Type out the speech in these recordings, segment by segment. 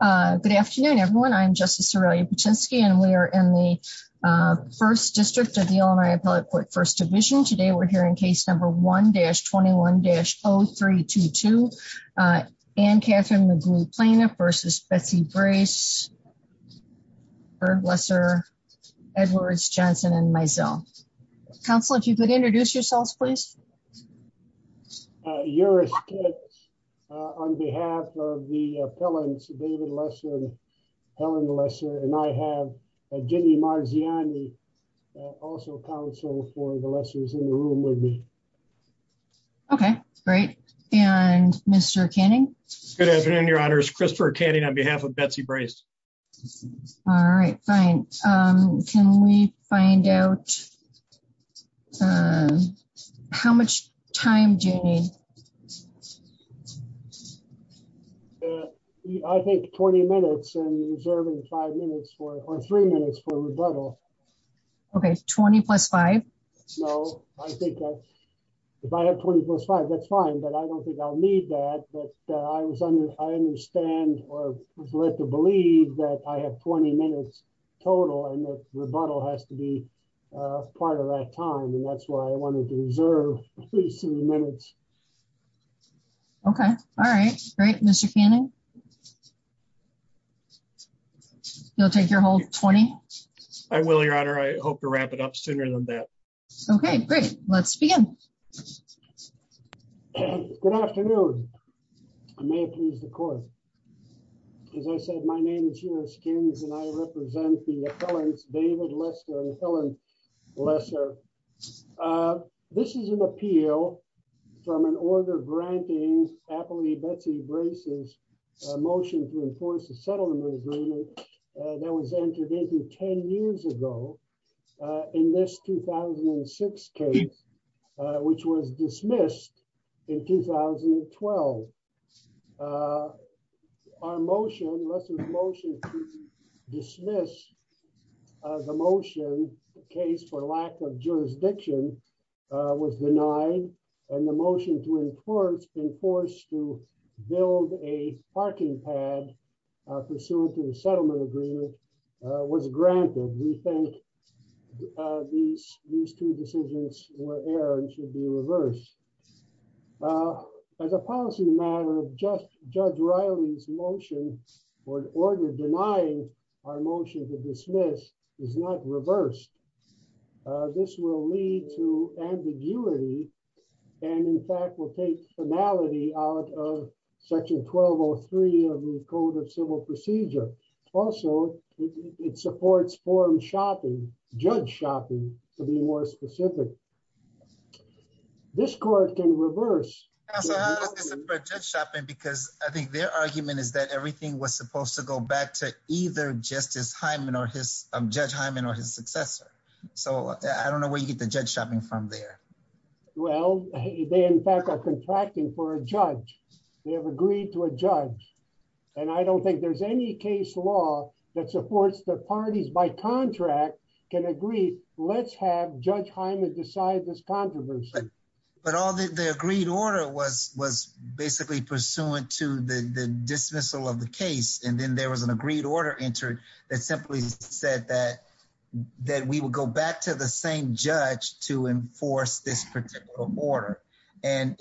Good afternoon, everyone. I'm Justice Aurelia Patinsky and we are in the 1st District of the Illinois Appellate Court First Division. Today, we're hearing case number 1-21-0322, Anne Catherine McGoey Plainer v. Betsy Brace, Herb Lesser, Edwards, Johnson, and Mizell. Counselor, if you could introduce yourselves, please. Eurus Kitt on behalf of the appellants, David Lesser, Helen Lesser, and I have Ginny Marziani, also counsel for the Lessers in the room with me. Okay, great. And Mr. Canning? Good afternoon, Your Honors. Christopher Canning on behalf of Betsy Brace. All right, fine. Can we find out how much time do you need? I think 20 minutes and reserving five minutes or three minutes for rebuttal. Okay, 20 plus five? No, I think if I have 20 plus five, that's fine, but I don't think I'll need that, but I understand or was led to believe that I have 20 minutes total and the rebuttal has to be part of that time and that's why I wanted to reserve at least three minutes. Okay, all right. Great. Mr. Canning? You'll take your whole 20? I will, Your Honor. I hope to wrap it up sooner than that. Okay, great. Let's begin. Good afternoon. May it please the court. As I said, my name is Eurus Kitt and I represent the appellants, David Lesser and Helen Lesser. This is an appeal from an order granting appellee Betsy Brace's motion to enforce a settlement agreement that was entered into 10 years ago in this 2006 case, which was dismissed in 2012. Our motion, Lesser's motion to dismiss the motion, the case for lack of jurisdiction, was denied and the motion to enforce to build a parking pad pursuant to the settlement agreement was granted. We think these two decisions were errored and should be reversed. As a policy matter, Judge Riley's motion for an order denying our motion to dismiss is not reversed. This will lead to ambiguity and in fact will take formality out of Section 1203 of the Code of Civil Procedure. Also, it supports forum shopping, judge shopping, to be more specific. This court can reverse. Judge shopping because I think their argument is that everything was supposed to go back to either Justice Hyman or his, Judge Hyman or his successor. So, I don't know where you get the judge shopping from there. Well, they in fact are contracting for a judge. They have agreed to a judge. And I don't think there's any case law that supports the parties by contract can agree, let's have Judge Hyman decide this controversy. But all the agreed order was basically pursuant to the dismissal of the case. And then there was an agreed order entered that simply said that we would go back to the same judge to enforce this particular order. And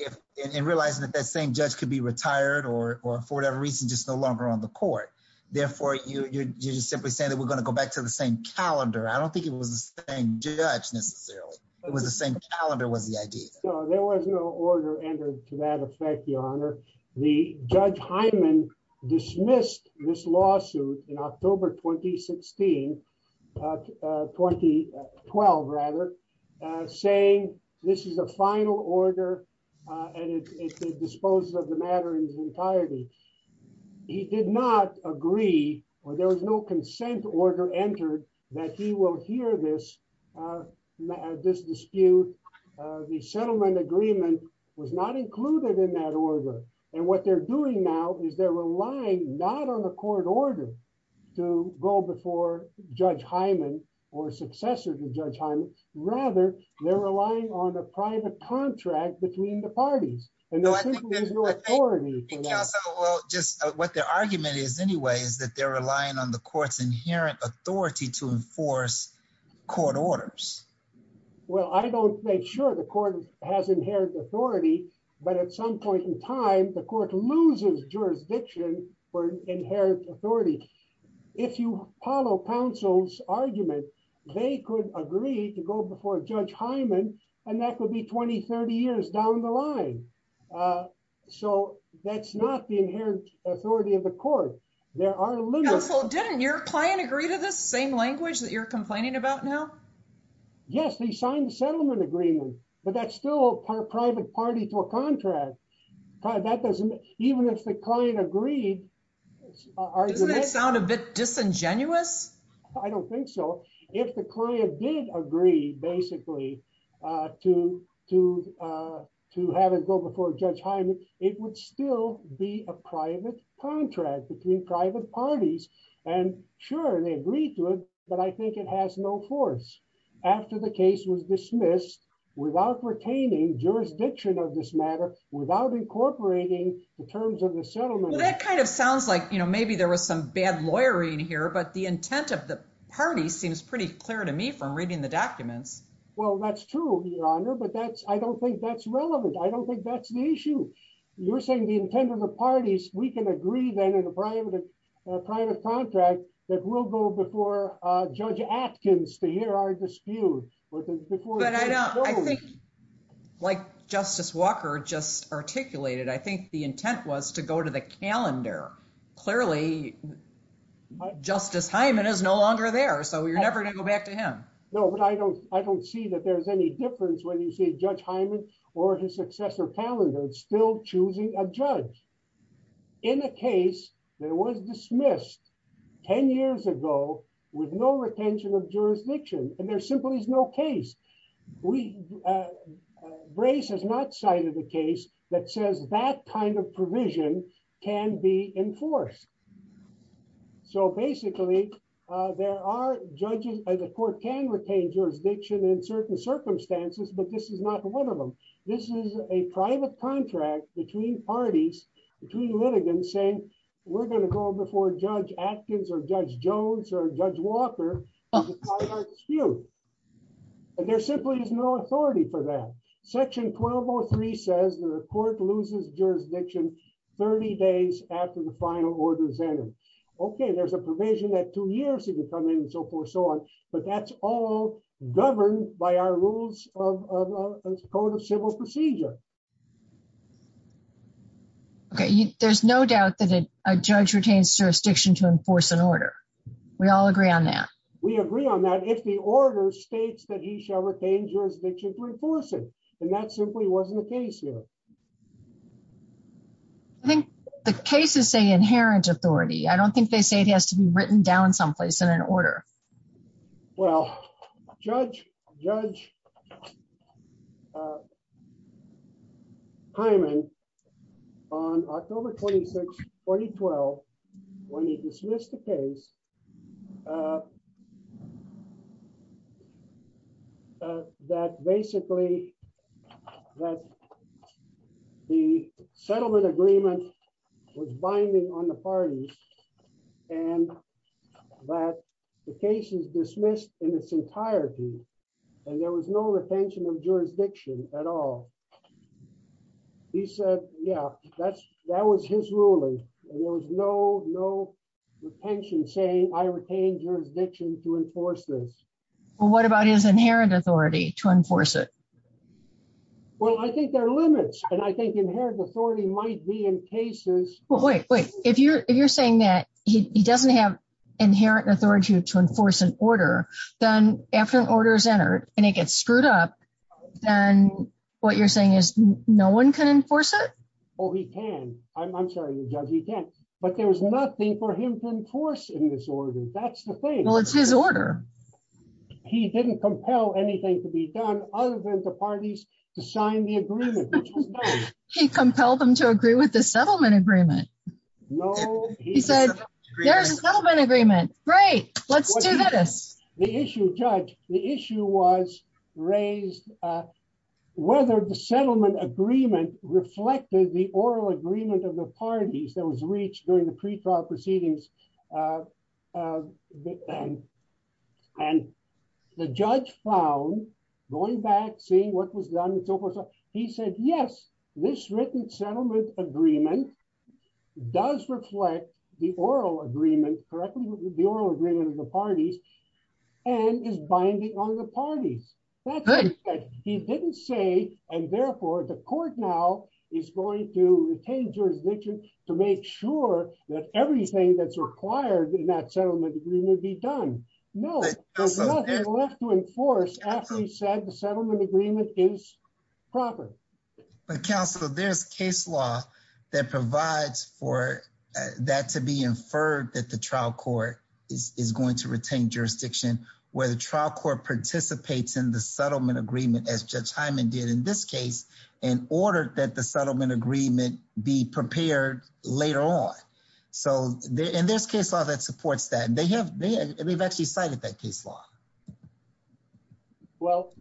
realizing that that same judge could be retired or for whatever reason just no longer on the court. Therefore, you're just simply saying that we're going to go back to the same calendar. I don't think it was the same judge necessarily. It was the same calendar was the idea. There was no order entered to that effect, Your Honor. The Judge Hyman dismissed this lawsuit in October 2016, 2012 rather, saying this is a final order. And it disposes of the matter in its entirety. He did not agree or there was no consent order entered that he will hear this dispute. The settlement agreement was not included in that order. And what they're doing now is they're relying not on the court order to go before Judge Hyman or successor to Judge Hyman. Rather, they're relying on a private contract between the parties. What their argument is anyway, is that they're relying on the court's inherent authority to enforce court orders. Well, I don't make sure the court has inherent authority, but at some point in time, the court loses jurisdiction for inherent authority. If you follow counsel's argument, they could agree to go before Judge Hyman, and that could be 20, 30 years down the line. So that's not the inherent authority of the court. Counsel, didn't your client agree to this same language that you're complaining about now? Yes, they signed the settlement agreement, but that's still a private party to a contract. Even if the client agreed... Doesn't it sound a bit disingenuous? I don't think so. If the client did agree, basically, to have it go before Judge Hyman, it would still be a private contract between private parties. And sure, they agreed to it, but I think it has no force. After the case was dismissed, without retaining jurisdiction of this matter, without incorporating the terms of the settlement... That kind of sounds like maybe there was some bad lawyering here, but the intent of the party seems pretty clear to me from reading the documents. Well, that's true, Your Honor, but I don't think that's relevant. I don't think that's the issue. You're saying the intent of the parties, we can agree then in a private contract that we'll go before Judge Atkins to hear our dispute. But I think, like Justice Walker just articulated, I think the intent was to go to the calendar. Clearly, Justice Hyman is no longer there, so you're never going to go back to him. No, but I don't see that there's any difference when you see Judge Hyman or his successor calendar still choosing a judge. In a case that was dismissed 10 years ago with no retention of jurisdiction, and there simply is no case. Brace has not cited a case that says that kind of provision can be enforced. So basically, there are judges, and the court can retain jurisdiction in certain circumstances, but this is not one of them. This is a private contract between parties, between litigants, saying we're going to go before Judge Atkins or Judge Jones or Judge Walker to fight our dispute. And there simply is no authority for that. Section 1203 says the court loses jurisdiction 30 days after the final order is entered. Okay, there's a provision that two years can come in and so forth and so on, but that's all governed by our rules of Code of Civil Procedure. Okay, there's no doubt that a judge retains jurisdiction to enforce an order. We all agree on that. We agree on that if the order states that he shall retain jurisdiction to enforce it, and that simply wasn't the case here. I think the cases say inherent authority, I don't think they say it has to be written down someplace in an order. Well, Judge, Judge Hyman on October 26, 2012, when he dismissed the case that basically the settlement agreement was binding on the parties and that the case is dismissed in its entirety. And there was no retention of jurisdiction at all. He said, yeah, that's, that was his ruling. There was no, no retention saying I retain jurisdiction to enforce this. What about his inherent authority to enforce it. Well, I think there are limits, and I think inherent authority might be in cases, wait, wait, if you're, if you're saying that he doesn't have inherent authority to enforce an order. Then, after the order is entered, and it gets screwed up. Then, what you're saying is, no one can enforce it. Oh, he can. I'm sorry, Judge, he can't. But there's nothing for him to enforce in this order. That's the thing. Well, it's his order. He didn't compel anything to be done, other than the parties to sign the agreement. He compelled them to agree with the settlement agreement. He said, there's a settlement agreement. Great. Let's do this. The issue, Judge, the issue was raised, whether the settlement agreement reflected the oral agreement of the parties that was reached during the pretrial proceedings. And the judge found, going back, seeing what was done and so forth, he said, yes, this written settlement agreement does reflect the oral agreement, correctly, the oral agreement of the parties, and is binding on the parties. He didn't say, and therefore, the court now is going to retain jurisdiction to make sure that everything that's required in that settlement agreement be done. No, there's nothing left to enforce after he said the settlement agreement is proper. But counsel, there's case law that provides for that to be inferred that the trial court is going to retain jurisdiction, where the trial court participates in the settlement agreement, as Judge Hyman did in this case, in order that the settlement agreement be prepared later on. So there's case law that supports that, and they have actually cited that case law. Well,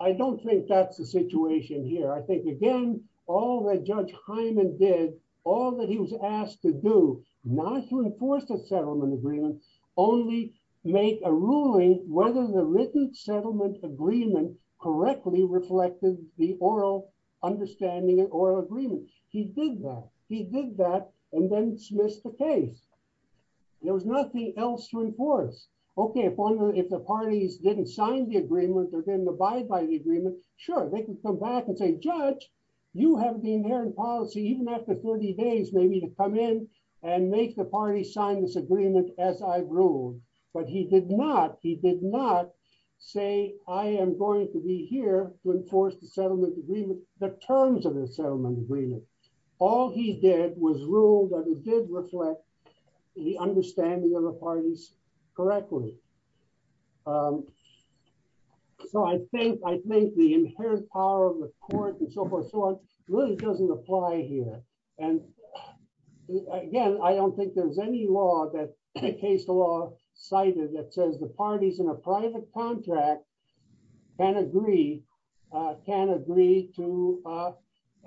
I don't think that's the situation here. I think, again, all that Judge Hyman did, all that he was asked to do, not to enforce the settlement agreement, only make a ruling whether the written settlement agreement correctly reflected the oral understanding or agreement. He did that. He did that, and then dismissed the case. There was nothing else to enforce. Okay, if the parties didn't sign the agreement or didn't abide by the agreement, sure, they can come back and say, Judge, you have the inherent policy, even after 30 days, maybe, to come in and make the parties sign this agreement as I've ruled. But he did not, he did not say, I am going to be here to enforce the settlement agreement, the terms of the settlement agreement. All he did was rule that it did reflect the understanding of the parties correctly. So I think, I think the inherent power of the court and so forth and so on really doesn't apply here. And, again, I don't think there's any law that the case law cited that says the parties in a private contract can agree, can agree to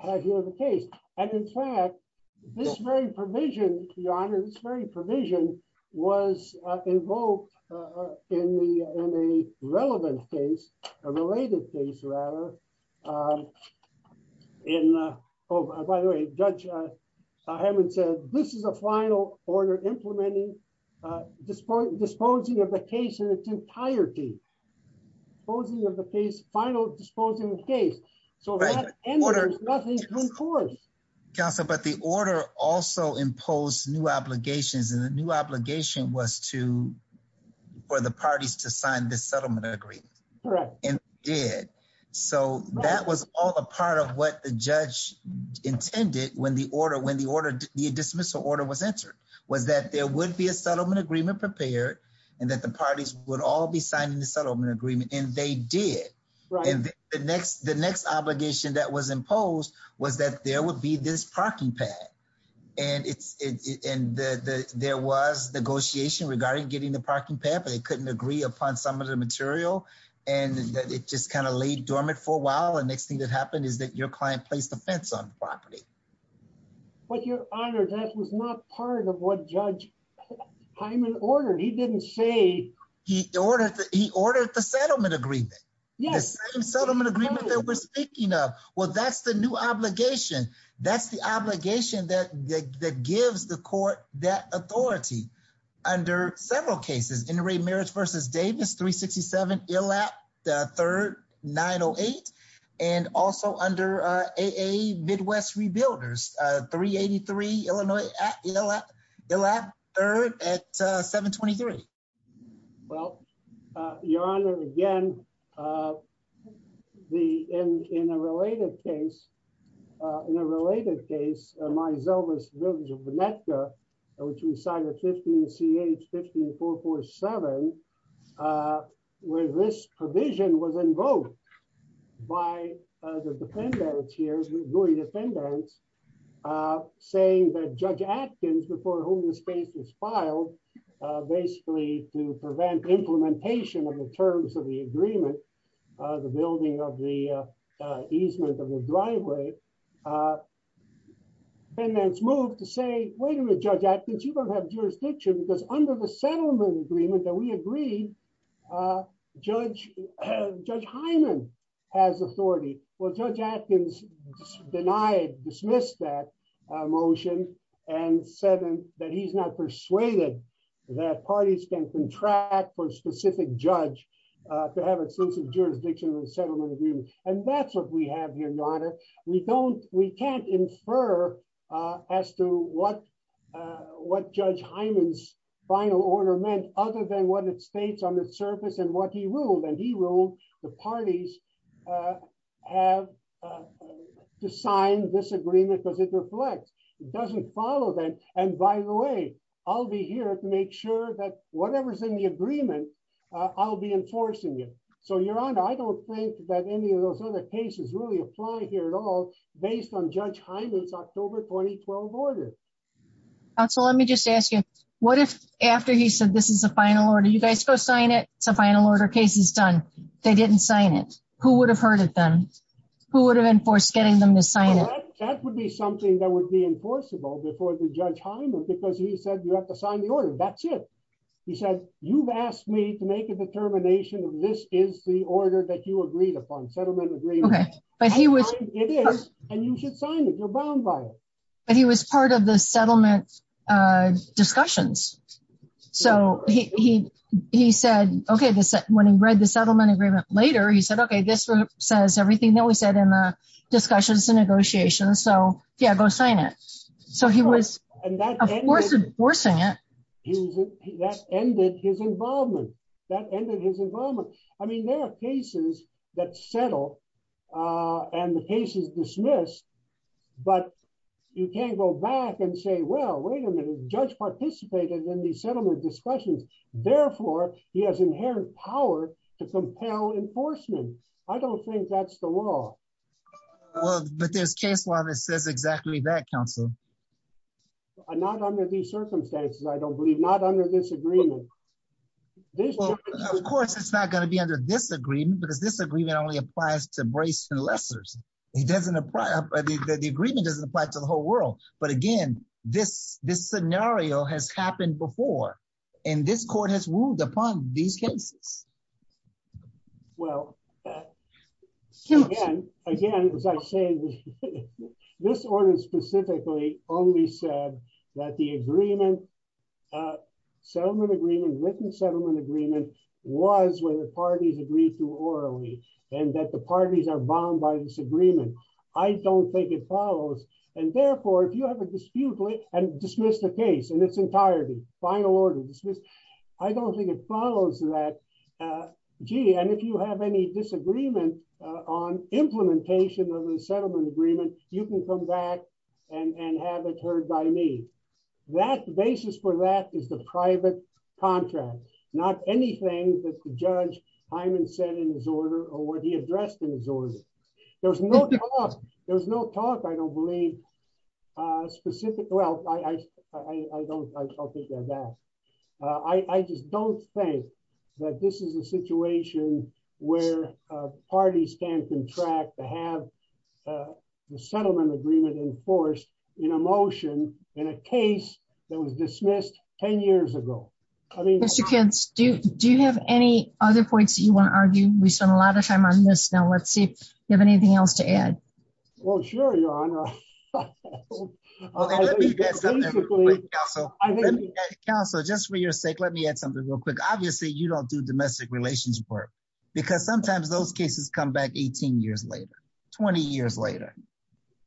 have you have a case. And, in fact, this very provision, Your Honor, this very provision was invoked in a relevant case, a related case, rather, in, oh, by the way, Judge Hammond said, this is a final order implementing, disposing of the case in its entirety. Disposing of the case, final disposing of the case. So that ends with nothing to enforce. Counsel, but the order also imposed new obligations and the new obligation was to, for the parties to sign this settlement agreement. Correct. So that was all a part of what the judge intended when the order, when the order, the dismissal order was entered, was that there would be a settlement agreement prepared and that the parties would all be signing the settlement agreement and they did. The next, the next obligation that was imposed was that there would be this parking pad and it's in the, there was negotiation regarding getting the parking pad, but they couldn't agree upon some of the material and it just kind of laid dormant for a while. And next thing that happened is that your client placed the fence on the property. But, Your Honor, that was not part of what Judge Hammond ordered. He didn't say. He ordered, he ordered the settlement agreement. Yes. The same settlement agreement that we're speaking of. Well, that's the new obligation. That's the obligation that gives the court that authority. Under several cases, NRA Marriage v. Davis, 367, ILLAP III, 908, and also under AA Midwest Rebuilders, 383 Illinois, ILLAP III at 723. Well, Your Honor, again, the, in a related case, in a related case, Myzelvis v. Vinetka, which we cited 15 CH 15447, where this provision was invoked by the defendants here, the Louis defendants, saying that Judge Atkins, before whom this case was filed, basically to prevent implementation of the terms of the agreement, the building of the easement of the driveway, defendants moved to say, wait a minute, Judge Atkins, you don't have jurisdiction because under the settlement agreement that we agreed, Judge, Judge Hyman has authority. Well, Judge Atkins denied, dismissed that motion and said that he's not persuaded that parties can contract for a specific judge to have extensive jurisdiction of the settlement agreement. And that's what we have here, Your Honor. We don't, we can't infer as to what, what Judge Hyman's final order meant, other than what it states on the surface and what he ruled, and he ruled the parties have to sign this agreement because it reflects. It doesn't follow them. And by the way, I'll be here to make sure that whatever's in the agreement, I'll be enforcing it. So, Your Honor, I don't think that any of those other cases really apply here at all, based on Judge Hyman's October 2012 order. Counsel, let me just ask you, what if after he said, this is a final order, you guys go sign it, it's a final order case, it's done. They didn't sign it. Who would have heard of them? Who would have enforced getting them to sign it? That would be something that would be enforceable before the Judge Hyman, because he said, you have to sign the order. That's it. He said, you've asked me to make a determination of this is the order that you agreed upon, settlement agreement. Okay, but he was... It is, and you should sign it, you're bound by it. But he was part of the settlement discussions. So, he said, okay, when he read the settlement agreement later, he said, okay, this says everything that we said in the discussions and negotiations. So, yeah, go sign it. So, he was enforcing it. That ended his involvement. That ended his involvement. I mean, there are cases that settle, and the case is dismissed, but you can't go back and say, well, wait a minute, Judge participated in the settlement discussions. Therefore, he has inherent power to compel enforcement. I don't think that's the law. But there's case law that says exactly that, Counsel. Not under these circumstances, I don't believe, not under this agreement. Of course, it's not going to be under this agreement, because this agreement only applies to Brace and Lessers. The agreement doesn't apply to the whole world. But again, this scenario has happened before, and this court has ruled upon these cases. Well, again, as I say, this order specifically only said that the agreement, settlement agreement, written settlement agreement, was where the parties agreed to orally, and that the parties are bound by this agreement. I don't think it follows. And therefore, if you have a dispute and dismiss the case in its entirety, final order, dismiss, I don't think it follows that. Gee, and if you have any disagreement on implementation of the settlement agreement, you can come back and have it heard by me. That basis for that is the private contract, not anything that Judge Hyman said in his order or what he addressed in his order. There was no talk. There was no talk, I don't believe, specifically. Well, I'll take that back. I just don't think that this is a situation where parties can contract to have the settlement agreement enforced in a motion in a case that was dismissed 10 years ago. Mr. Kentz, do you have any other points that you want to argue? We spent a lot of time on this. Now, let's see if you have anything else to add. Well, sure, Your Honor. Counsel, just for your sake, let me add something real quick. Obviously, you don't do domestic relations work, because sometimes those cases come back 18 years later, 20 years later.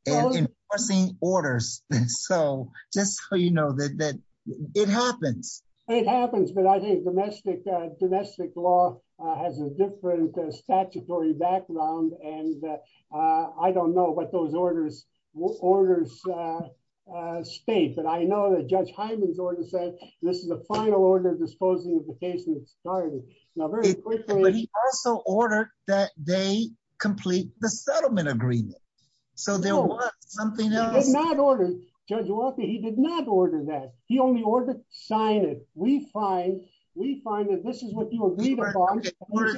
Enforcing orders. So just so you know that it happens. But I think domestic law has a different statutory background, and I don't know what those orders state. But I know that Judge Hyman's order said this is a final order disposing of the case in its entirety. But he also ordered that they complete the settlement agreement. So there was something else. Judge Walker, he did not order that. He only ordered, sign it. We find that this is what you agreed upon.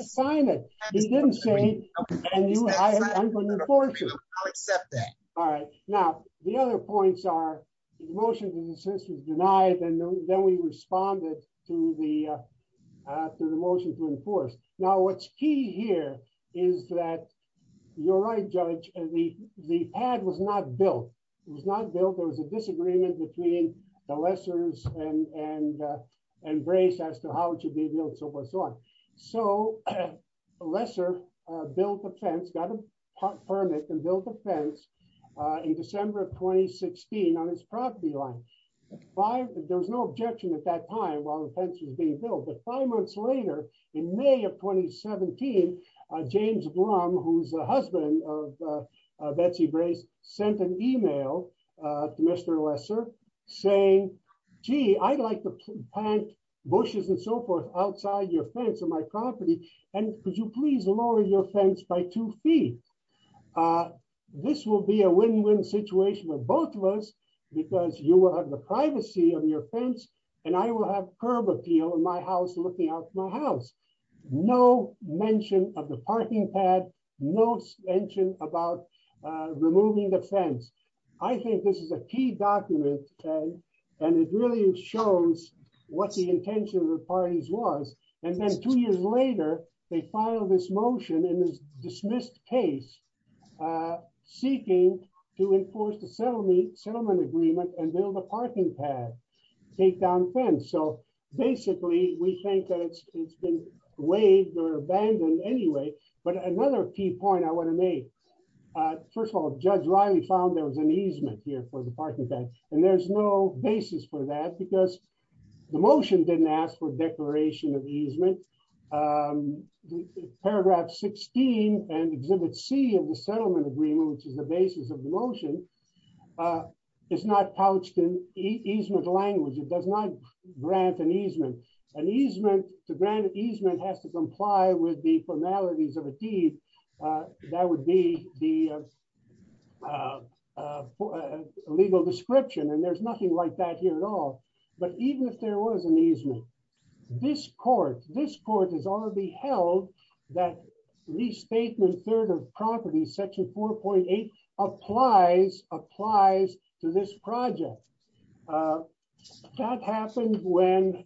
Sign it. He didn't say it, and I'm going to enforce it. I'll accept that. All right. Now, the other points are the motion was denied, and then we responded to the motion to enforce. Now, what's key here is that, you're right, Judge, the pad was not built. It was not built. There was a disagreement between the lessors and Grace as to how it should be built, and so forth and so on. So the lessor built a fence, got a permit and built a fence in December of 2016 on his property line. There was no objection at that time while the fence was being built. But five months later, in May of 2017, James Blum, who's the husband of Betsy Grace, sent an email to Mr. Lesser saying, gee, I'd like to plant bushes and so forth outside your fence on my property, and could you please lower your fence by two feet? This will be a win-win situation for both of us because you will have the privacy of your fence, and I will have curb appeal in my house looking out my house. No mention of the parking pad, no mention about removing the fence. I think this is a key document, and it really shows what the intention of the parties was. And then two years later, they filed this motion in this dismissed case seeking to enforce the settlement agreement and build a parking pad, take down the fence. So basically, we think that it's been waived or abandoned anyway. But another key point I want to make, first of all, Judge Riley found there was an easement here for the parking pad, and there's no basis for that because the motion didn't ask for a declaration of easement. Paragraph 16 and Exhibit C of the settlement agreement, which is the basis of the motion, is not pouched in easement language. It does not grant an easement. An easement, to grant an easement, has to comply with the formalities of a deed. That would be the legal description, and there's nothing like that here at all. But even if there was an easement, this court has already held that restatement third of property, section 4.8, applies to this project. That happened when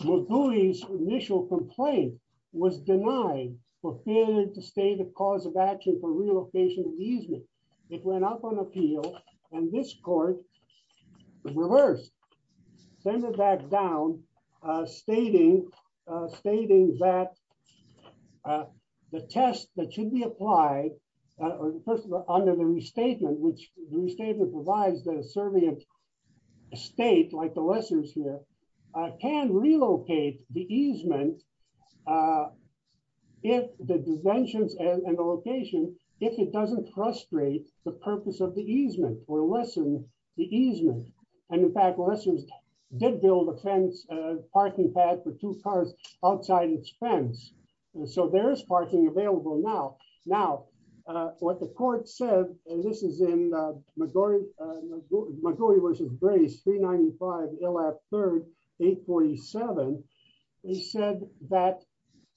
Mugui's initial complaint was denied for failing to state a cause of action for relocation and easement. It went up on appeal, and this court reversed, sent it back down, stating that the test that should be applied, first of all, under the restatement, which the restatement provides the servient state, like the Lessers here, can relocate the easement, the dimensions and the location, if it doesn't frustrate the purpose of the easement or lessen the easement. In fact, the Lessers did build a parking pad for two cars outside its fence, so there is parking available now. What the court said, and this is in Mugui v. Brace 395 LF 3rd 847, they said that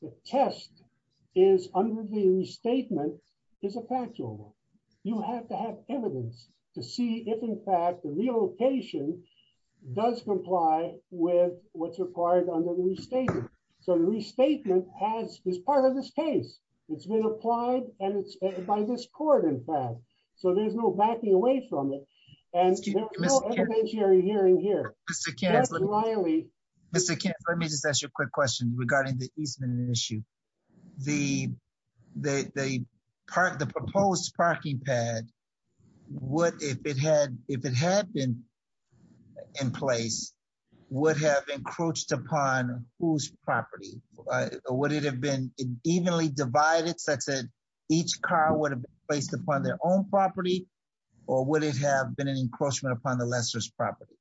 the test under the restatement is a factual one. You have to have evidence to see if, in fact, the relocation does comply with what's required under the restatement. So the restatement is part of this case. It's been applied by this court, in fact. So there's no backing away from it, and there's no intermediary hearing here. Mr. Kent, let me just ask you a quick question regarding the easement issue. The proposed parking pad, if it had been in place, would have encroached upon whose property? Would it have been evenly divided such that each car would have been placed upon their own property, or would it have been an encroachment upon the Lessers' property?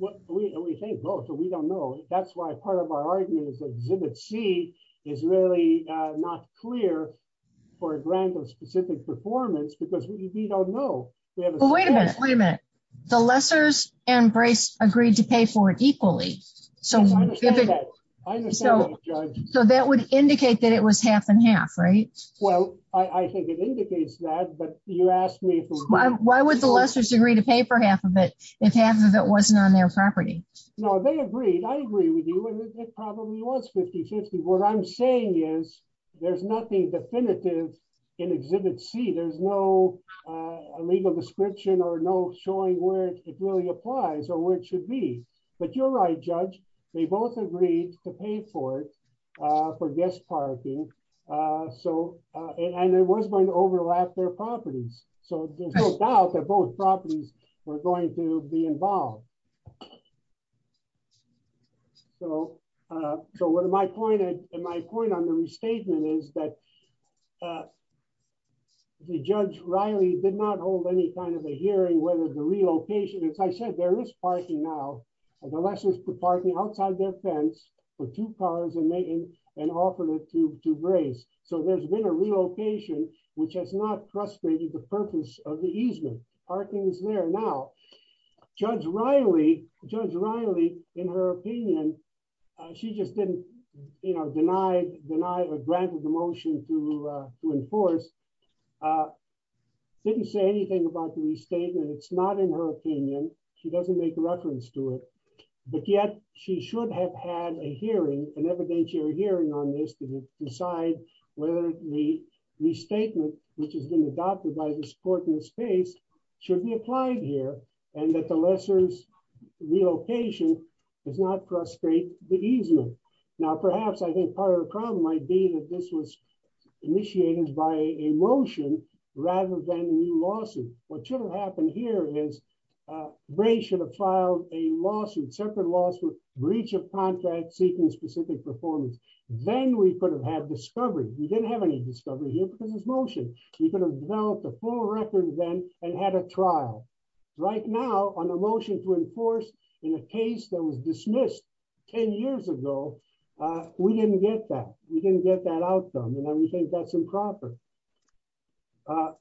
We think both, but we don't know. That's why part of our argument is that Exhibit C is really not clear for a grant of specific performance, because we don't know. Wait a minute. Wait a minute. The Lessers and Brace agreed to pay for it equally. I understand that, Judge. So that would indicate that it was half and half, right? Well, I think it indicates that, but you asked me... Why would the Lessers agree to pay for half of it if half of it wasn't on their property? No, they agreed. I agree with you, and it probably was 50-50. What I'm saying is there's nothing definitive in Exhibit C. There's no legal description or no showing where it really applies or where it should be. But you're right, Judge. They both agreed to pay for it for guest parking, and it was going to overlap their properties. There was no doubt that both properties were going to be involved. So my point on the restatement is that Judge Riley did not hold any kind of a hearing whether the relocation... As I said, there is parking now. The Lessers put parking outside their fence for two cars and offered it to Brace. So there's been a relocation, which has not frustrated the purpose of the easement. Parking is there now. Judge Riley, in her opinion... She just didn't deny or grant the motion to enforce. Didn't say anything about the restatement. It's not in her opinion. She doesn't make reference to it. But yet, she should have had a hearing, an evidentiary hearing on this to decide whether the restatement, which has been adopted by this court in this case, should be applied here, and that the Lessers' relocation does not frustrate the easement. Now, perhaps I think part of the problem might be that this was initiated by a motion rather than a new lawsuit. What should have happened here is Brace should have filed a lawsuit, separate lawsuit, breach of contract seeking specific performance. Then we could have had discovery. We didn't have any discovery here because of this motion. We could have developed a full record then and had a trial. Right now, on a motion to enforce in a case that was dismissed 10 years ago, we didn't get that. We didn't get that outcome, and we think that's improper.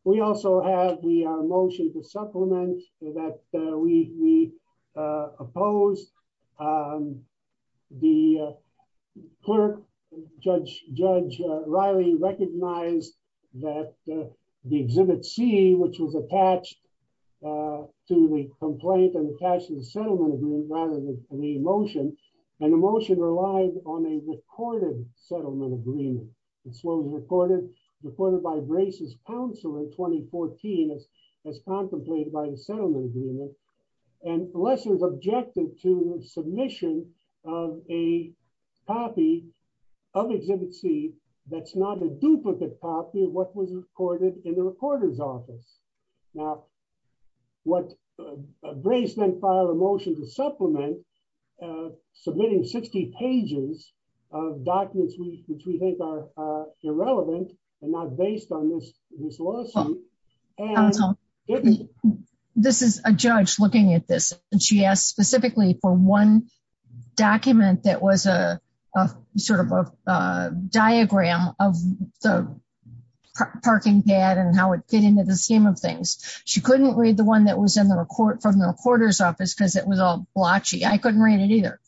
We also have the motion to supplement that we opposed. The clerk, Judge Riley, recognized that the Exhibit C, which was attached to the complaint and attached to the settlement agreement rather than the motion, and the motion relied on a recorded settlement agreement. It was recorded by Brace's counsel in 2014 as contemplated by the settlement agreement, and Lessers objected to the submission of a copy of Exhibit C that's not a duplicate copy of what was recorded in the recorder's office. Now, Brace then filed a motion to supplement, submitting 60 pages of documents which we think are irrelevant and not based on this lawsuit. This is a judge looking at this, and she asked specifically for one document that was a sort of a diagram of the parking pad and how it fit into the scheme of things. She couldn't read the one that was from the recorder's office because it was all blotchy. She couldn't read it either.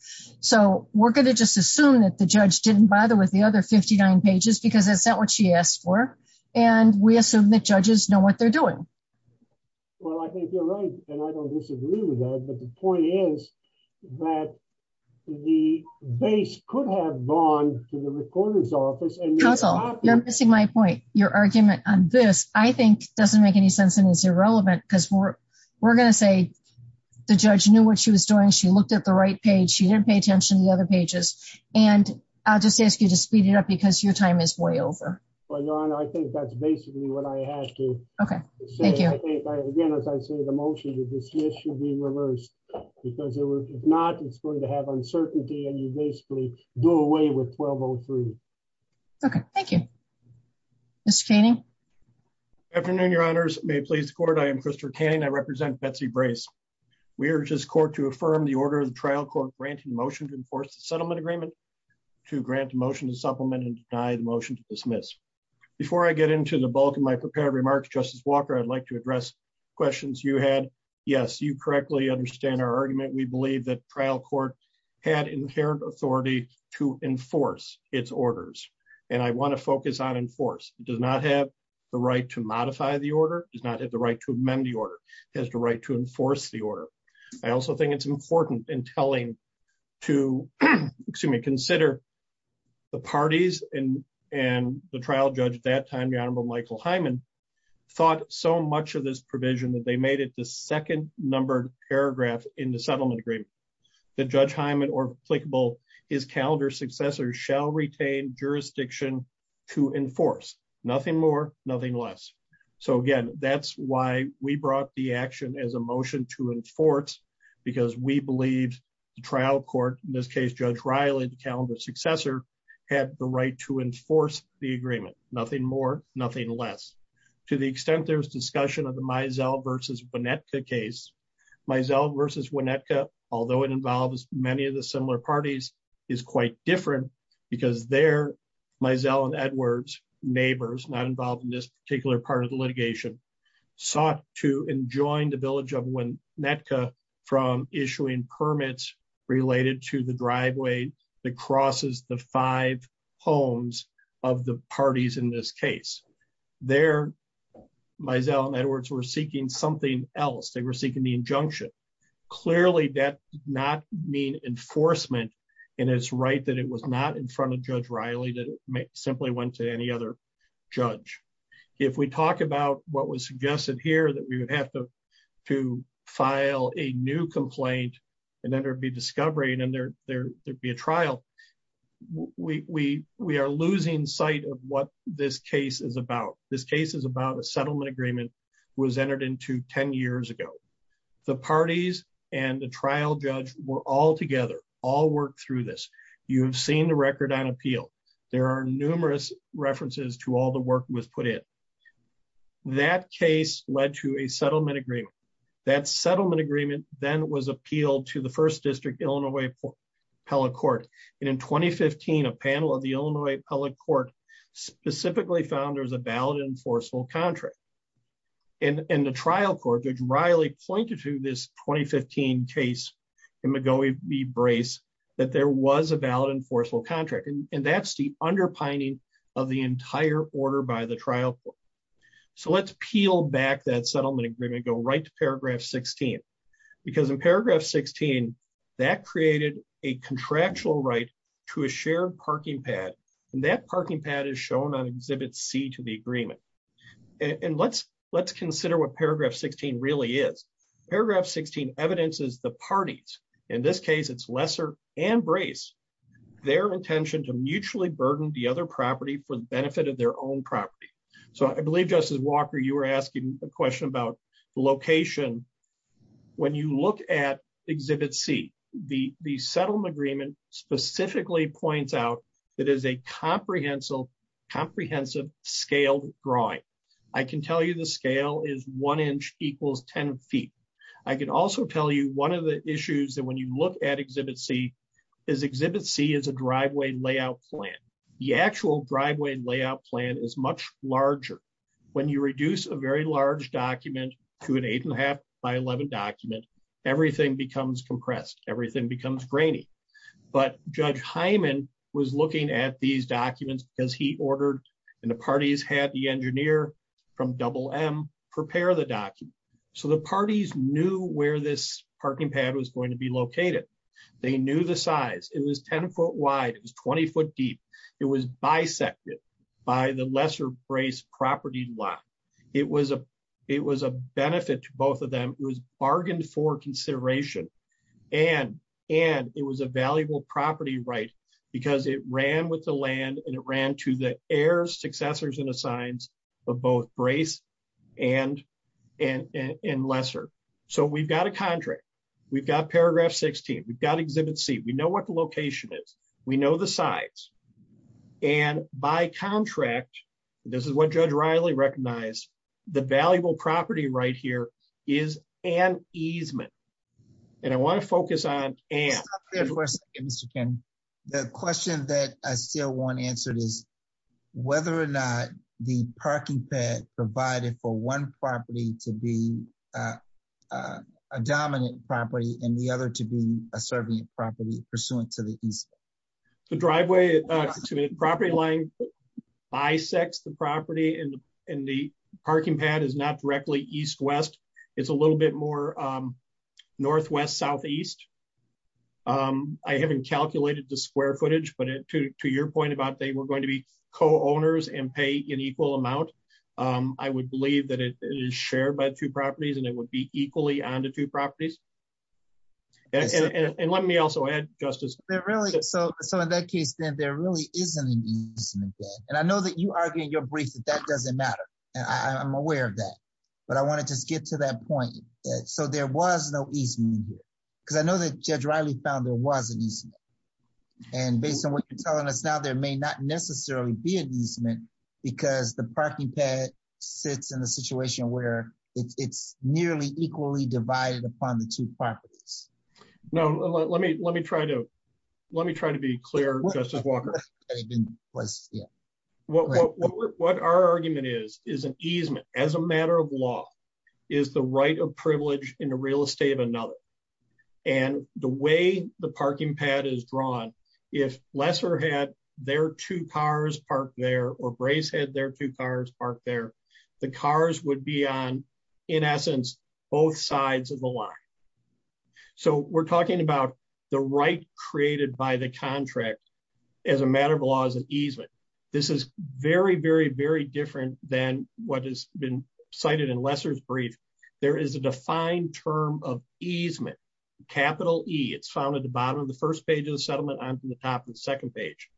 We're going to just assume that the judge didn't bother with the other 59 pages because that's not what she asked for, and we assume that judges know what they're doing. Well, I think you're right, and I don't disagree with that, but the point is that the base could have gone to the recorder's office. Counsel, you're missing my point. Your argument on this, I think, doesn't make any sense and is irrelevant because we're going to say the judge knew what she was doing, she didn't pay attention to the other pages, and I'll just ask you to speed it up because your time is way over. Well, Your Honor, I think that's basically what I had to say. Again, as I say, the motion to dismiss should be reversed because if not, it's going to have uncertainty, and you basically do away with 1203. Okay. Thank you. Mr. Canning? Good afternoon, Your Honors. May it please the Court? I am Christopher Canning. I represent Betsy Brace. We urge this Court to affirm the order of the trial court granting the motion to enforce the settlement agreement to grant the motion to supplement and deny the motion to dismiss. Before I get into the bulk of my prepared remarks, Justice Walker, I'd like to address questions you had. Yes, you correctly understand our argument. We believe that trial court had inherent authority to enforce its orders, and I want to focus on enforce. It does not have the right to modify the order. It does not have the right to amend the order. It has the right to enforce the order. I also think it's important in telling to, excuse me, consider the parties and the trial judge at that time, Your Honorable Michael Hyman, thought so much of this provision that they made it the second numbered paragraph in the settlement agreement that Judge Hyman or applicable his calendar successor shall retain jurisdiction to enforce. Nothing more, nothing less. Again, that's why we brought the action as a motion to enforce because we believed the trial court, in this case, Judge Riley, the calendar successor, had the right to enforce the agreement. Nothing more, nothing less. To the extent there was discussion of the Mizell versus Winnetka case, Mizell versus Winnetka, although it involves many of the similar parties, is quite different because there, Mizell and Edwards, neighbors not involved in this particular part of the litigation, sought to enjoin the village of Winnetka from issuing permits related to the driveway that crosses the five homes of the parties in this case. There, Mizell and Edwards were seeking something else. They were seeking the injunction. Clearly, that did not mean enforcement and it's right that it was not in front of Judge Riley that it simply went to any other judge. If we talk about what was suggested here, that we would have to file a new complaint and then there'd be discovery and there'd be a trial, we are losing sight of what this case is about. This case is about a settlement agreement that was entered into 10 years ago. The parties and the trial judge were all together, all worked through this. You have seen the record on appeal. There are numerous references to all the work was put in. That case led to a settlement agreement. That settlement agreement then was appealed to the First District Illinois Appellate Court and in 2015, a panel of the Illinois Appellate Court specifically found there was a valid enforceable contract. In the trial court, Judge Riley pointed to this 2015 case in McGowey v. Brace that there was a valid enforceable contract and that's the underpinning of the entire order by the trial court. Let's peel back that settlement agreement, go right to paragraph 16 because in paragraph 16, that created a contractual right to a shared parking pad and that parking pad is shown on exhibit C to the agreement. Let's consider what paragraph 16 really is. Paragraph 16 evidences the parties, in this case, it's Lesser and Brace, their intention to mutually burden the other property for the benefit of their own property. I believe, Justice Walker, you were asking a question about the location. When you look at exhibit C, the settlement agreement specifically points out that it is a comprehensive scaled drawing. I can tell you the scale is one inch equals 10 feet. I can also tell you one of the issues that when you look at exhibit C, is exhibit C is a driveway layout plan. The actual driveway layout plan is much larger. When you reduce a very large document to an eight and a half by 11 document, everything becomes compressed. Everything becomes grainy. But Judge Hyman was looking at these documents because he ordered and the parties had the engineer from Double M prepare the document. The parties knew where this parking pad was going to be located. They knew the size. It was 10 foot wide, it was 20 foot deep. It was bisected by the Lesser Brace property lot. It was a benefit to both of them. It was bargained for consideration and it was a valuable property right because it ran with the land and it ran to the heirs, successors and assigns of both Brace and Lesser. We've got a contract. We've got paragraph 16. We've got exhibit C. We know what the location is. We know the size. By contract, this is what Judge Riley recognized, the valuable property right here is an easement. I want to focus on and. Mr. Ken, the question that I still want answered is whether or not the parking pad provided for one property to be a dominant property and the other to be a serving property pursuant to the easement. The driveway to a property line bisects the property and the parking pad is not directly east-west. It's a little bit more northwest-southeast. I haven't calculated the square footage, but to your point about they were going to be co-owners and pay an equal amount, I would believe that it is shared by two properties and it would be equally on the two properties. And let me also add, Justice. So in that case, then there really isn't an easement. And I know that you argue in your brief that that doesn't matter. I'm aware of that, but I want to just get to that point. So there was no easement here because I know that Judge Riley found there was an easement. And based on what you're telling us now, there may not necessarily be an easement because the parking pad sits in a situation where it's nearly equally divided upon the two properties. No, let me try to be clear, Justice Walker. What our argument is, is an easement as a matter of law is the right of privilege in the real estate of another. And the way the parking pad is drawn, if Lesser had their two cars parked there or Brace had their two cars parked there, the cars would be on, in essence, both sides of the line. So we're talking about the right created by the contract as a matter of law as an easement. This is very, very, very different than what has been cited in Lesser's brief. There is a defined term of easement, capital E. It's found at the bottom of the first page of the settlement and on the top of the second page.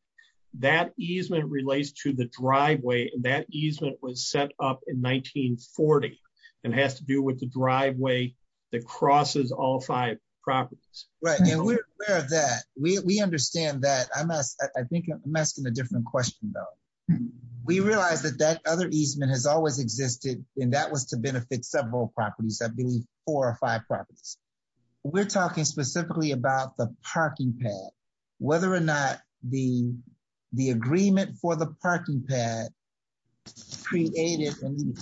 That easement relates to the driveway and that easement was set up in 1940 and has to do with the driveway that crosses all five properties. Right, and we're aware of that. We understand that. I think I'm asking a different question, though. We realize that that other easement has always existed and that was to benefit several properties, I believe four or five properties. I'm asking specifically about the parking pad, whether or not the agreement for the parking pad created an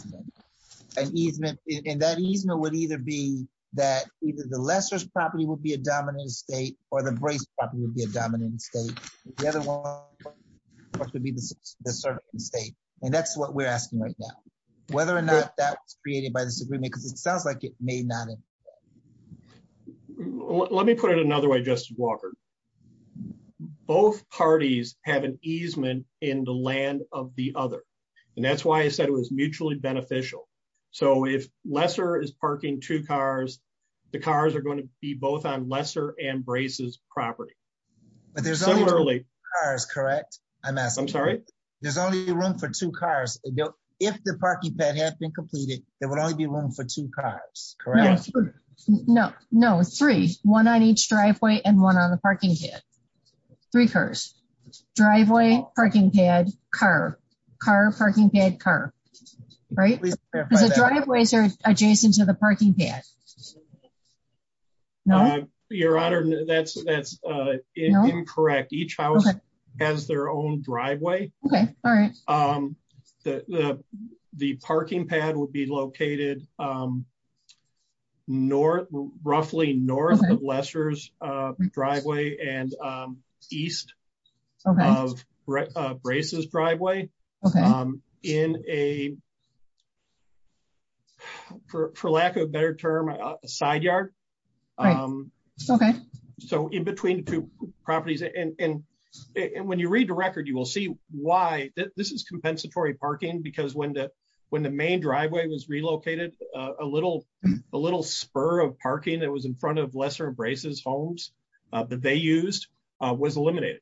easement. And that easement would either be that either the Lesser's property would be a dominant estate or the Brace property would be a dominant estate. The other one would be the servant estate. And that's what we're asking right now, whether or not that was created by this agreement because it sounds like it may not have. Let me put it another way, Justice Walker. Both parties have an easement in the land of the other. And that's why I said it was mutually beneficial. So if Lesser is parking two cars, the cars are going to be both on Lesser and Brace's property. But there's only two cars, correct? I'm sorry? There's only room for two cars. If the parking pad had been completed, there would only be room for two cars, correct? No, three. One on each driveway and one on the parking pad. Three cars. Driveway, parking pad, car. Car, parking pad, car. Right? Because the driveways are adjacent to the parking pad. No? Your Honor, that's incorrect. Each house has their own driveway. Okay, all right. The parking pad would be located roughly north of Lesser's driveway and east of Brace's driveway. Okay. For lack of a better term, a side yard. Right, okay. So in between the two properties. And when you read the record, you will see why. This is compensatory parking, because when the main driveway was relocated, a little spur of parking that was in front of Lesser and Brace's homes that they used was eliminated.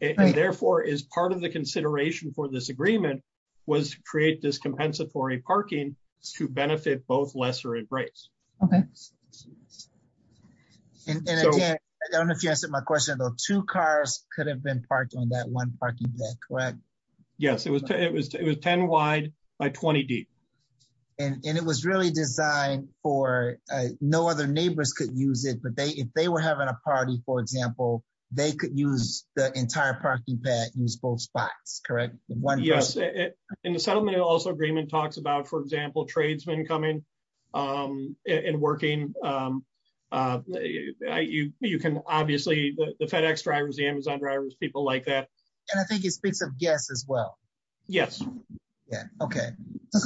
And therefore, as part of the consideration for this agreement, was to create this compensatory parking to benefit both Lesser and Brace. Okay. And again, I don't know if you answered my question, but two cars could have been parked on that one parking pad, correct? Yes, it was 10 wide by 20 deep. And it was really designed for, no other neighbors could use it, but if they were having a party, for example, they could use the entire parking pad, use both spots, correct? Yes, in the settlement, it also agreement talks about, for example, tradesmen coming and working. You can obviously, the FedEx drivers, the Amazon drivers, people like that. And I think it speaks of guests as well. Yes. Yeah, okay.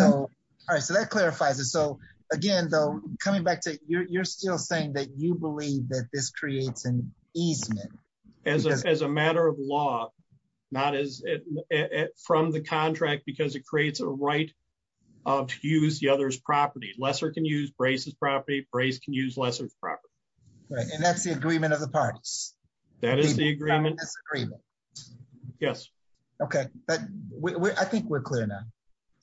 All right, so that clarifies it. So again, though, coming back to, you're still saying that you believe that this creates an easement. As a matter of law, not as from the contract, because it creates a right to use the other's property. Lesser can use Brace's property, Brace can use Lesser's property. Right, and that's the agreement of the parties. That is the agreement. Yes. Okay, but I think we're clear now.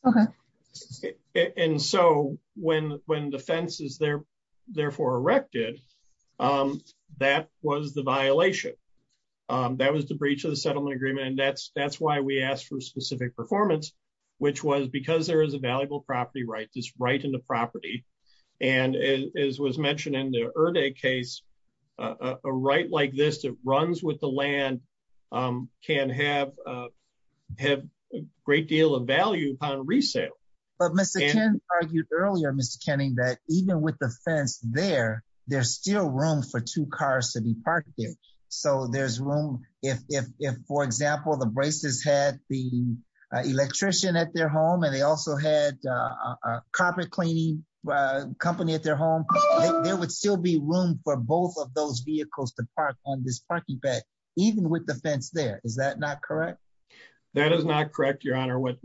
Okay. And so when the fence is there, therefore erected, that was the violation. That was the breach of the settlement agreement. And that's why we asked for specific performance, which was because there is a valuable property right, this right in the property. And as was mentioned in the Erday case, a right like this that runs with the land can have a great deal of value upon resale. But Mr. Ken argued earlier, Mr. Kenning, that even with the fence there, there's still room for two cars to be parked there. So there's room if, for example, the Braces had the electrician at their home and they also had a carpet cleaning company at their home, there would still be room for both of those vehicles to park on this parking bed, even with the fence there. Is that not correct? That is not correct, Your Honor. What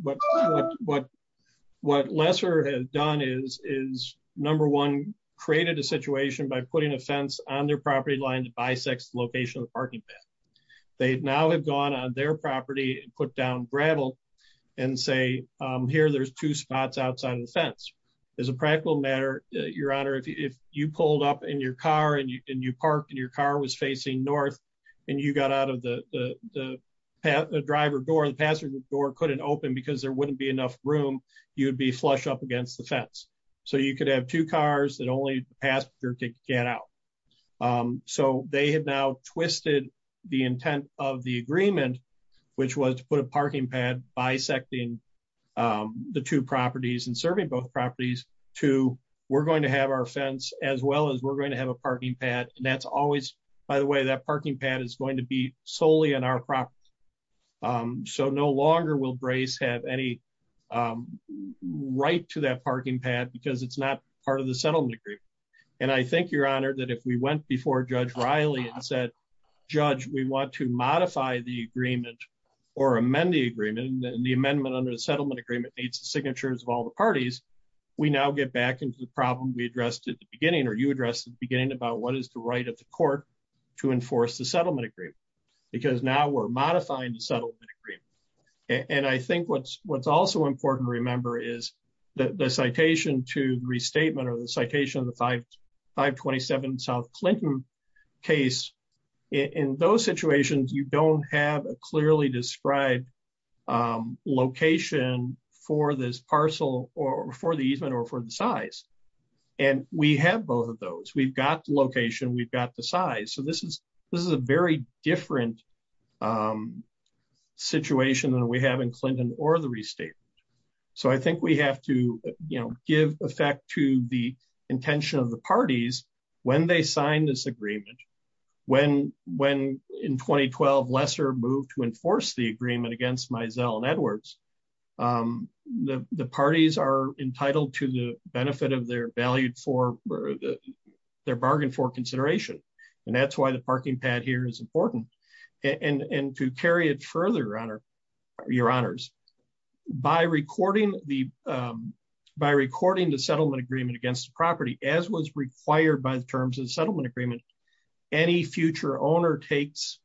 Lesser has done is, number one, created a situation by putting a fence on their property line that bisects the location of the parking bed. They now have gone on their property and put down gravel and say, here there's two spots outside of the fence. As a practical matter, Your Honor, if you pulled up in your car and you parked and your car was facing north and you got out of the driver door and the passenger door couldn't open because there wouldn't be enough room, you would be flush up against the fence. So you could have two cars that only the passenger could get out. So they have now twisted the intent of the agreement, which was to put a parking pad bisecting the two properties and serving both properties to we're going to have our fence as well as we're going to have a parking pad. And that's always, by the way, that parking pad is going to be solely on our property. So no longer will Brace have any right to that parking pad because it's not part of the settlement agreement. And I think, Your Honor, that if we went before Judge Riley and said, Judge, we want to modify the agreement or amend the agreement and the amendment under the settlement agreement needs the signatures of all the parties. We now get back into the problem we addressed at the beginning and we have the right of the court to enforce the settlement agreement because now we're modifying the settlement agreement. And I think what's also important to remember is that the citation to restatement or the citation of the 527 South Clinton case, in those situations, you don't have a clearly described location for this parcel or for the easement or for the size. And we have both of those. We've got the location, we've got the size. So this is a very different situation than we have in Clinton or the restatement. So I think we have to give effect to the intention of the parties when they sign this agreement. When in 2012, Lesser moved to enforce the agreement against Mizell and Edwards, the parties are entitled to the benefit of their bargain for consideration. And that's why the parking pad here is important. And to carry it further, your honors, by recording the settlement agreement against the property, as was required by the terms of the settlement agreement, any future owner takes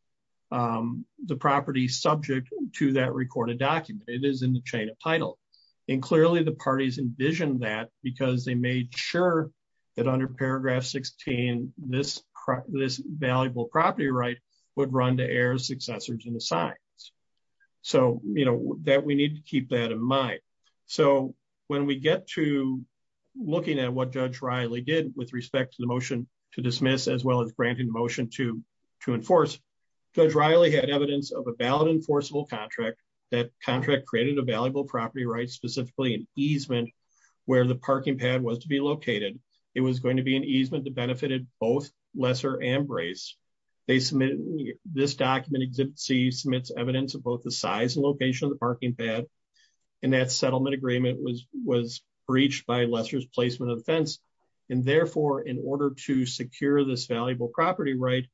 the property subject to that recorded document. It is in the chain of title. And clearly the parties envisioned that and made sure that under paragraph 16, this valuable property right would run to heirs, successors, and the signs. So that we need to keep that in mind. So when we get to looking at what Judge Riley did with respect to the motion to dismiss, as well as granting motion to enforce, Judge Riley had evidence of a valid enforceable contract that contract created a valuable property right, specifically an easement where the parking pad was to be located. It was going to be an easement that benefited both Lesser and Brace. They submitted, this document exhibits, submits evidence of both the size and location of the parking pad. And that settlement agreement was breached by Lesser's placement of the fence. And therefore, in order to secure this valuable property right,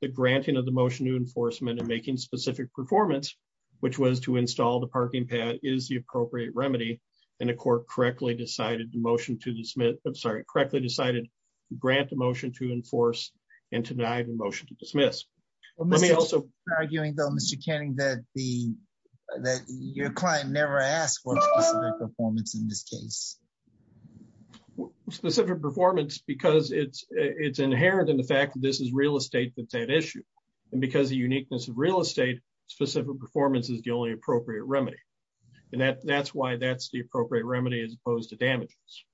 the granting of the motion to enforcement and making specific performance, which was to install the parking pad is the appropriate remedy. And the court correctly decided the motion to dismiss, I'm sorry, correctly decided to grant the motion to enforce and to deny the motion to dismiss. Let me also- We're arguing though, Mr. Canning, that your client never asked for specific performance in this case. Specific performance, because it's inherent in the fact that this is real estate that's at issue. And because of the uniqueness of real estate, specific performance is the only appropriate remedy. And that's why that's the appropriate remedy as opposed to damages.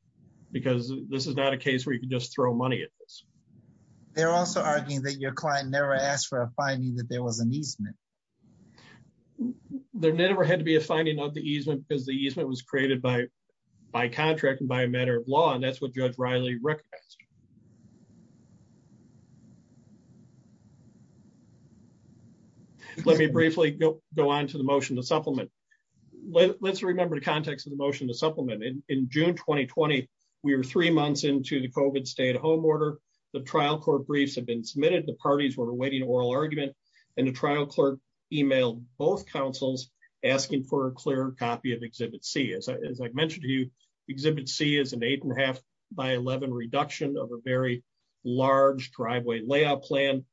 Because this is not a case where you can just throw money at this. They're also arguing that your client never asked for a finding that there was an easement. There never had to be a finding of the easement because the easement was created by contract and by a matter of law. And that's what Judge Riley recognized. Let me briefly go on to the motion to supplement. Let's remember the context of the motion to supplement. In June 2020, we were three months into the COVID stay-at-home order. The trial court briefs had been submitted. The parties were awaiting oral argument. And the trial clerk emailed both counsels asking for a clear copy of Exhibit C. As I mentioned to you, Exhibit C is an 8.5 by 11 reduction of a very large driveway layout plan.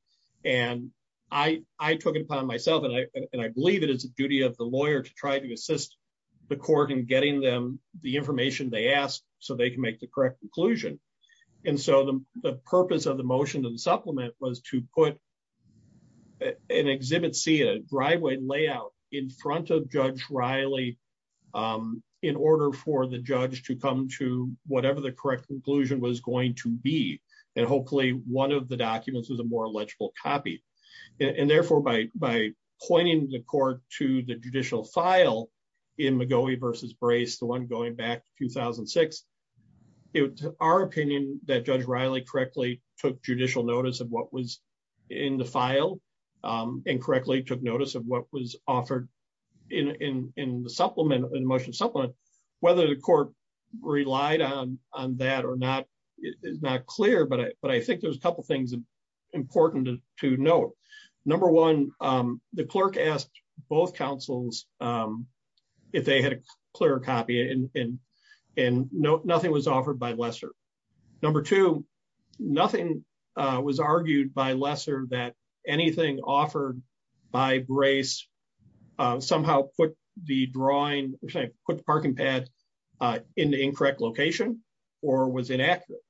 And I took it upon myself, and I believe it is the duty of the lawyer to try to assist the court in getting them the information they asked so they can make the correct conclusion. And so the purpose of the motion to supplement was to put an Exhibit C, a driveway layout, in front of Judge Riley in order for the judge to come to whatever the correct conclusion was going to be. And hopefully one of the documents was a more legible copy. And therefore by pointing the court to the judicial file in McGoey v. Brace, the one going back to 2006, it was our opinion that Judge Riley correctly took judicial notice of what was in the file and correctly took notice of what was offered in the motion to supplement. Whether the court relied on that or not is not clear, but I think there's a couple of things important to note. Number one, the clerk asked both counsels if they had a clearer copy, and nothing was offered by Lesser. Number two, nothing was argued by Lesser that anything offered by Brace somehow put the drawing, sorry, put the parking pad in the incorrect location or was inaccurate.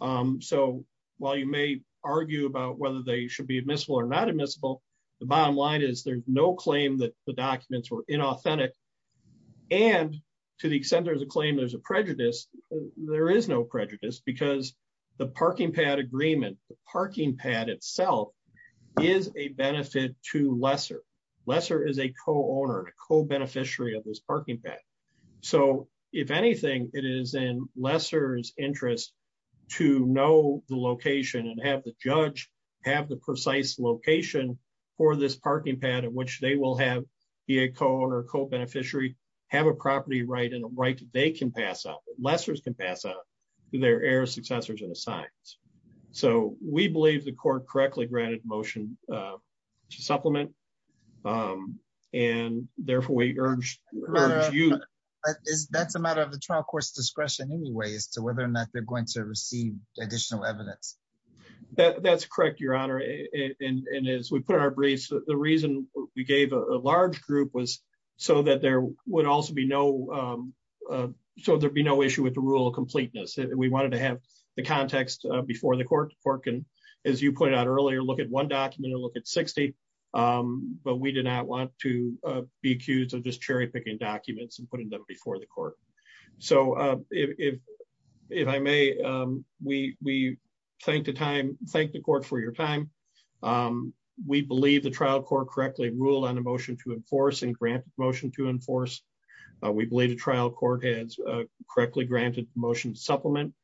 So while you may argue about whether they should be admissible or not admissible, the bottom line is there's no claim that the documents were inauthentic. And to the extent there's a claim there's a prejudice, there is no prejudice because the parking pad agreement, the parking pad itself is a benefit to Lesser. Lesser is a co-owner and a co-beneficiary of this parking pad. So if anything, it is in Lesser's interest to know the location and have the judge have the precise location for this parking pad in which they will have be a co-owner, co-beneficiary, have a property right and a right they can pass up, Lesser's can pass up to their heir, successors and assigned. So we believe the court correctly granted motion to supplement and therefore we urge you. That's a matter of the trial court's discretion anyway as to whether or not they're going to receive additional evidence. That's correct, Your Honor. And as we put in our briefs, the reason we gave a large group was so that there would also be no, so there'd be no issue with the rule of completeness. We wanted to have the context before the court can, as you pointed out earlier, look at one document and look at 60, but we did not want to be accused of just cherry picking documents and putting them before the court. So if I may, we thank the time, thank the court for your time. We believe the trial court correctly ruled on a motion to enforce and grant motion to enforce. We believe the trial court has correctly granted motion to supplement.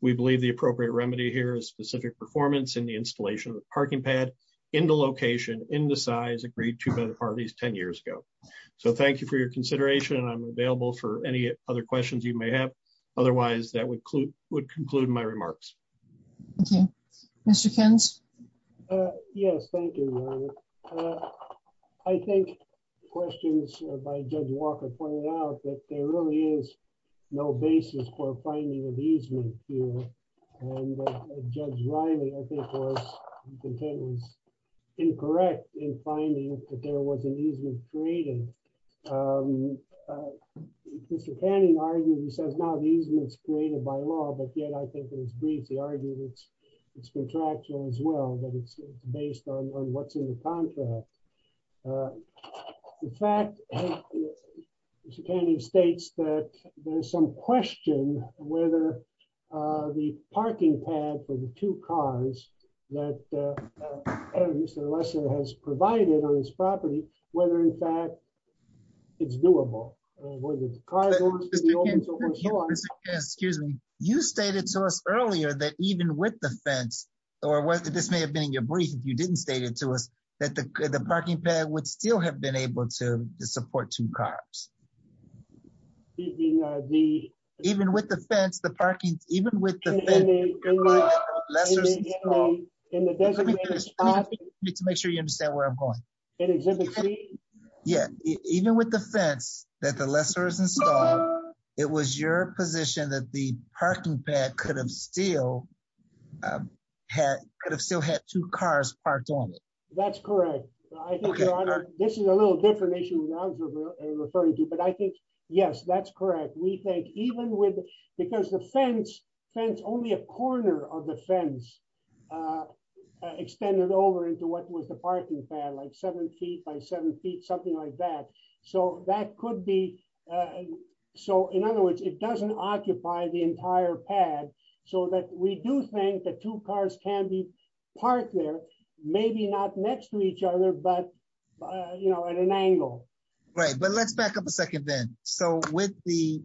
We believe the appropriate remedy here is specific performance in the installation of the parking pad in the location, in the size agreed to by the parties 10 years ago. I'm available for any other questions you may have. Otherwise that would conclude my remarks. Thank you. Mr. Kins? Yes, thank you, Your Honor. I think questions by Judge Walker pointed out that there really is no basis for finding an easement here. And Judge Riley, I think, was incorrect in finding that there was an easement created. Mr. Canning argued, he says, no, the easement's created by law, but yet I think in his brief, he argued it's contractual as well, that it's based on what's in the contract. In fact, Mr. Canning states that there's some question whether the parking pad for the two cars that Mr. Lesser has provided on his property, whether, in fact, it's doable. Mr. Canning, excuse me, you stated to us earlier that even with the fence, or this may have been in your brief if you didn't state it to us, that the parking pad would still have been able to support two cars. Even with the fence, the parking, even with the fence, in the designated spot. Let me finish. Let me make sure you understand where I'm going. In Exhibit C? Yeah, even with the fence that the Lesser has installed, it was your position that the parking pad could have still had two cars parked on it. That's correct. This is a little different issue than I was referring to, but I think, yes, that's correct. We think even with, because the fence, only a corner of the fence extended over into what was the parking pad, like seven feet by seven feet, something like that. In other words, it doesn't occupy the entire pad so that we do think that two cars can be parked there, maybe not next to each other, but at an angle. Right, but let's back up a second then. So with the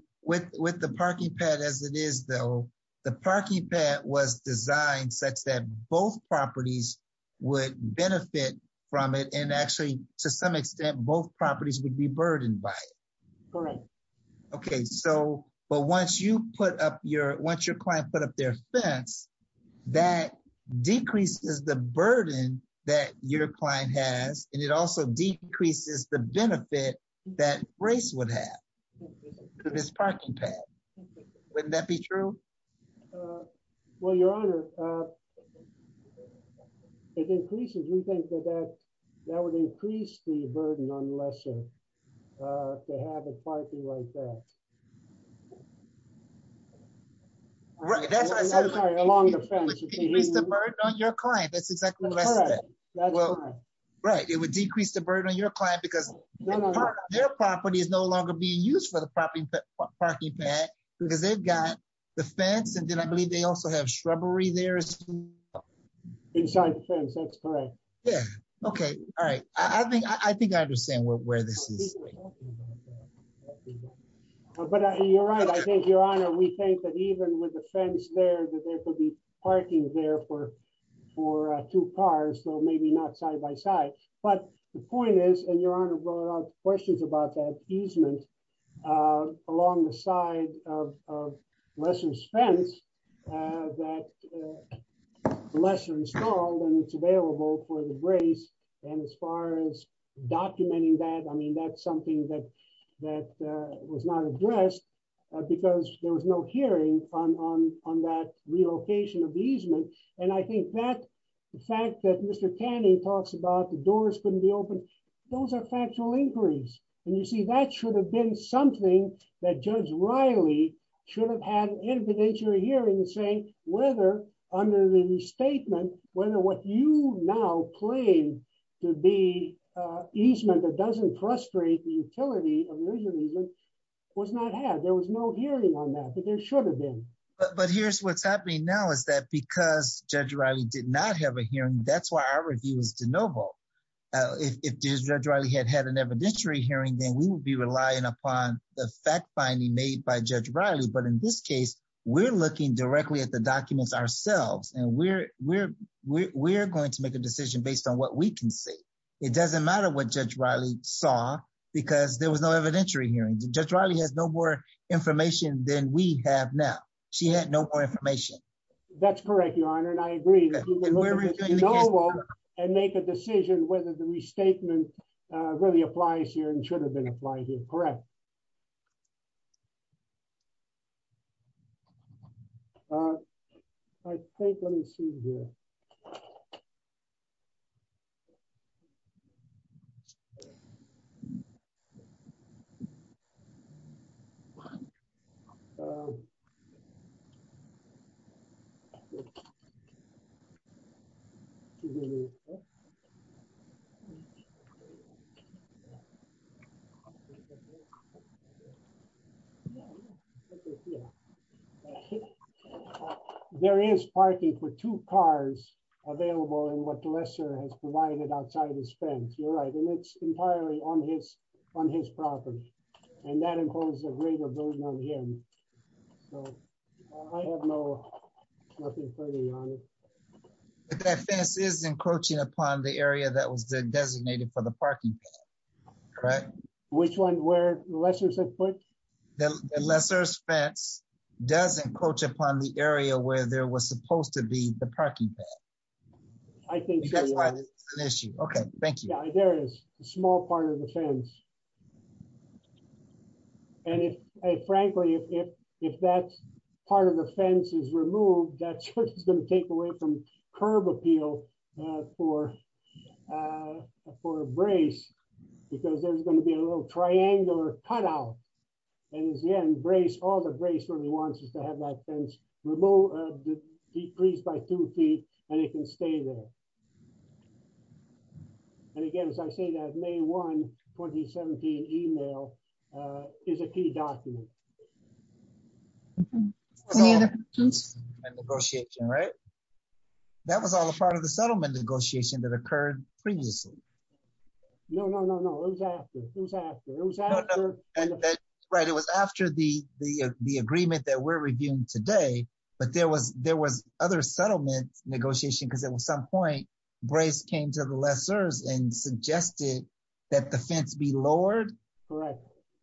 parking pad as it is, though, the parking pad was designed such that both properties would benefit from it, and actually, to some extent, both properties would be burdened by it. Correct. Okay, but once you put up your, once your client put up their fence, that decreases the burden that your client has, and it also decreases the benefit that Brace would have. To this parking pad. Wouldn't that be true? Well, Your Honor, it increases, we think that that, that would increase the burden on the lessor to have it parking like that. Right, that's what I said. It would decrease the burden on your client. That's exactly what I said. Right, it would decrease the burden on your client because their property is no longer being used for the parking pad because they've got the fence and then I believe they also have shrubbery there. Inside the fence, that's correct. Yeah, okay, all right. I think I understand where this is. But you're right, I think, Your Honor, we think that even with the fence there, that there could be parking there for two cars, so maybe not side by side. But the point is, there are questions about that easement along the side of lessor's fence that lessor installed and it's available for the brace. And as far as documenting that, I mean, that's something that was not addressed because there was no hearing on that relocation of the easement. And I think that, the fact that Mr. Canning talks about the doors couldn't be opened, those are factual inquiries. And you see, that should have been something that Judge Riley should have had an interpretation here and say whether, under the restatement, whether what you now claim to be easement that doesn't frustrate the utility of the original easement was not had. There was no hearing on that, but there should have been. But here's what's happening now is that because Judge Riley did not have a hearing, and that's why our review is de novo, if Judge Riley had had an evidentiary hearing, then we would be relying upon the fact finding made by Judge Riley. But in this case, we're looking directly at the documents ourselves and we're going to make a decision based on what we can see. It doesn't matter what Judge Riley saw because there was no evidentiary hearing. Judge Riley has no more information than we have now. She had no more information. That's correct, Your Honor, and I agree. And make a decision whether the restatement really applies here and should have been applied here. Correct. I think, let me see here. Excuse me. There is parking for two cars available in what the lessor has provided outside his fence. You're right. And it's entirely on his property. And that includes a greater burden on him. So I have no, nothing further, Your Honor. But that fence is encroaching upon the area that was designated for the parking. Correct. Which one? Where the lessors have put? The lessor's fence does encroach upon the area where there was supposed to be the parking. I think that's an issue. Okay. Thank you. There is a small part of the fence. And frankly, if that part of the fence is removed, that's what's going to take away from curb appeal for a brace because there's going to be a little triangular cutout. And again, brace, all the brace really wants is to have that fence decreased by two feet and it can stay there. And again, as I say, that May 1, 2017 email is a key document. Any other questions? That was all part of the settlement negotiation, right? That was all a part of the settlement negotiation that occurred previously. No, no, no, it was after. It was after. No, no. Right. It was after the agreement that we're reviewing today. But there was other settlement negotiation because at some point brace came to the lessors and suggested that the fence be lowered. Right.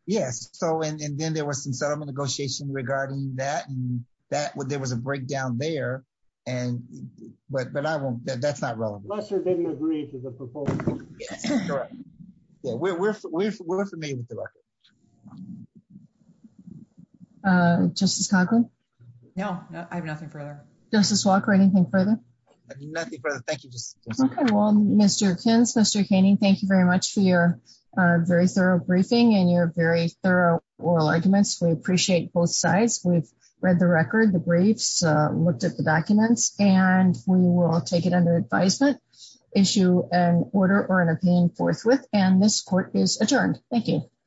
Yes. So and then there was some settlement negotiation regarding that. And that was there was a breakdown there. And what? But I won't. That's not relevant. They didn't agree to the proposal. Correct. We're familiar with the record. Justice Conklin. No, I have nothing further. Justice Walker, anything further? Nothing further. Thank you. Well, Mr. Kins, Mr. Kainey, thank you very much for your very thorough briefing and your very thorough oral arguments. We appreciate both sides. We've read the record. The briefs looked at the documents and we will take it under advisement, issue an order or an opinion forthwith. And this court is adjourned. Thank you.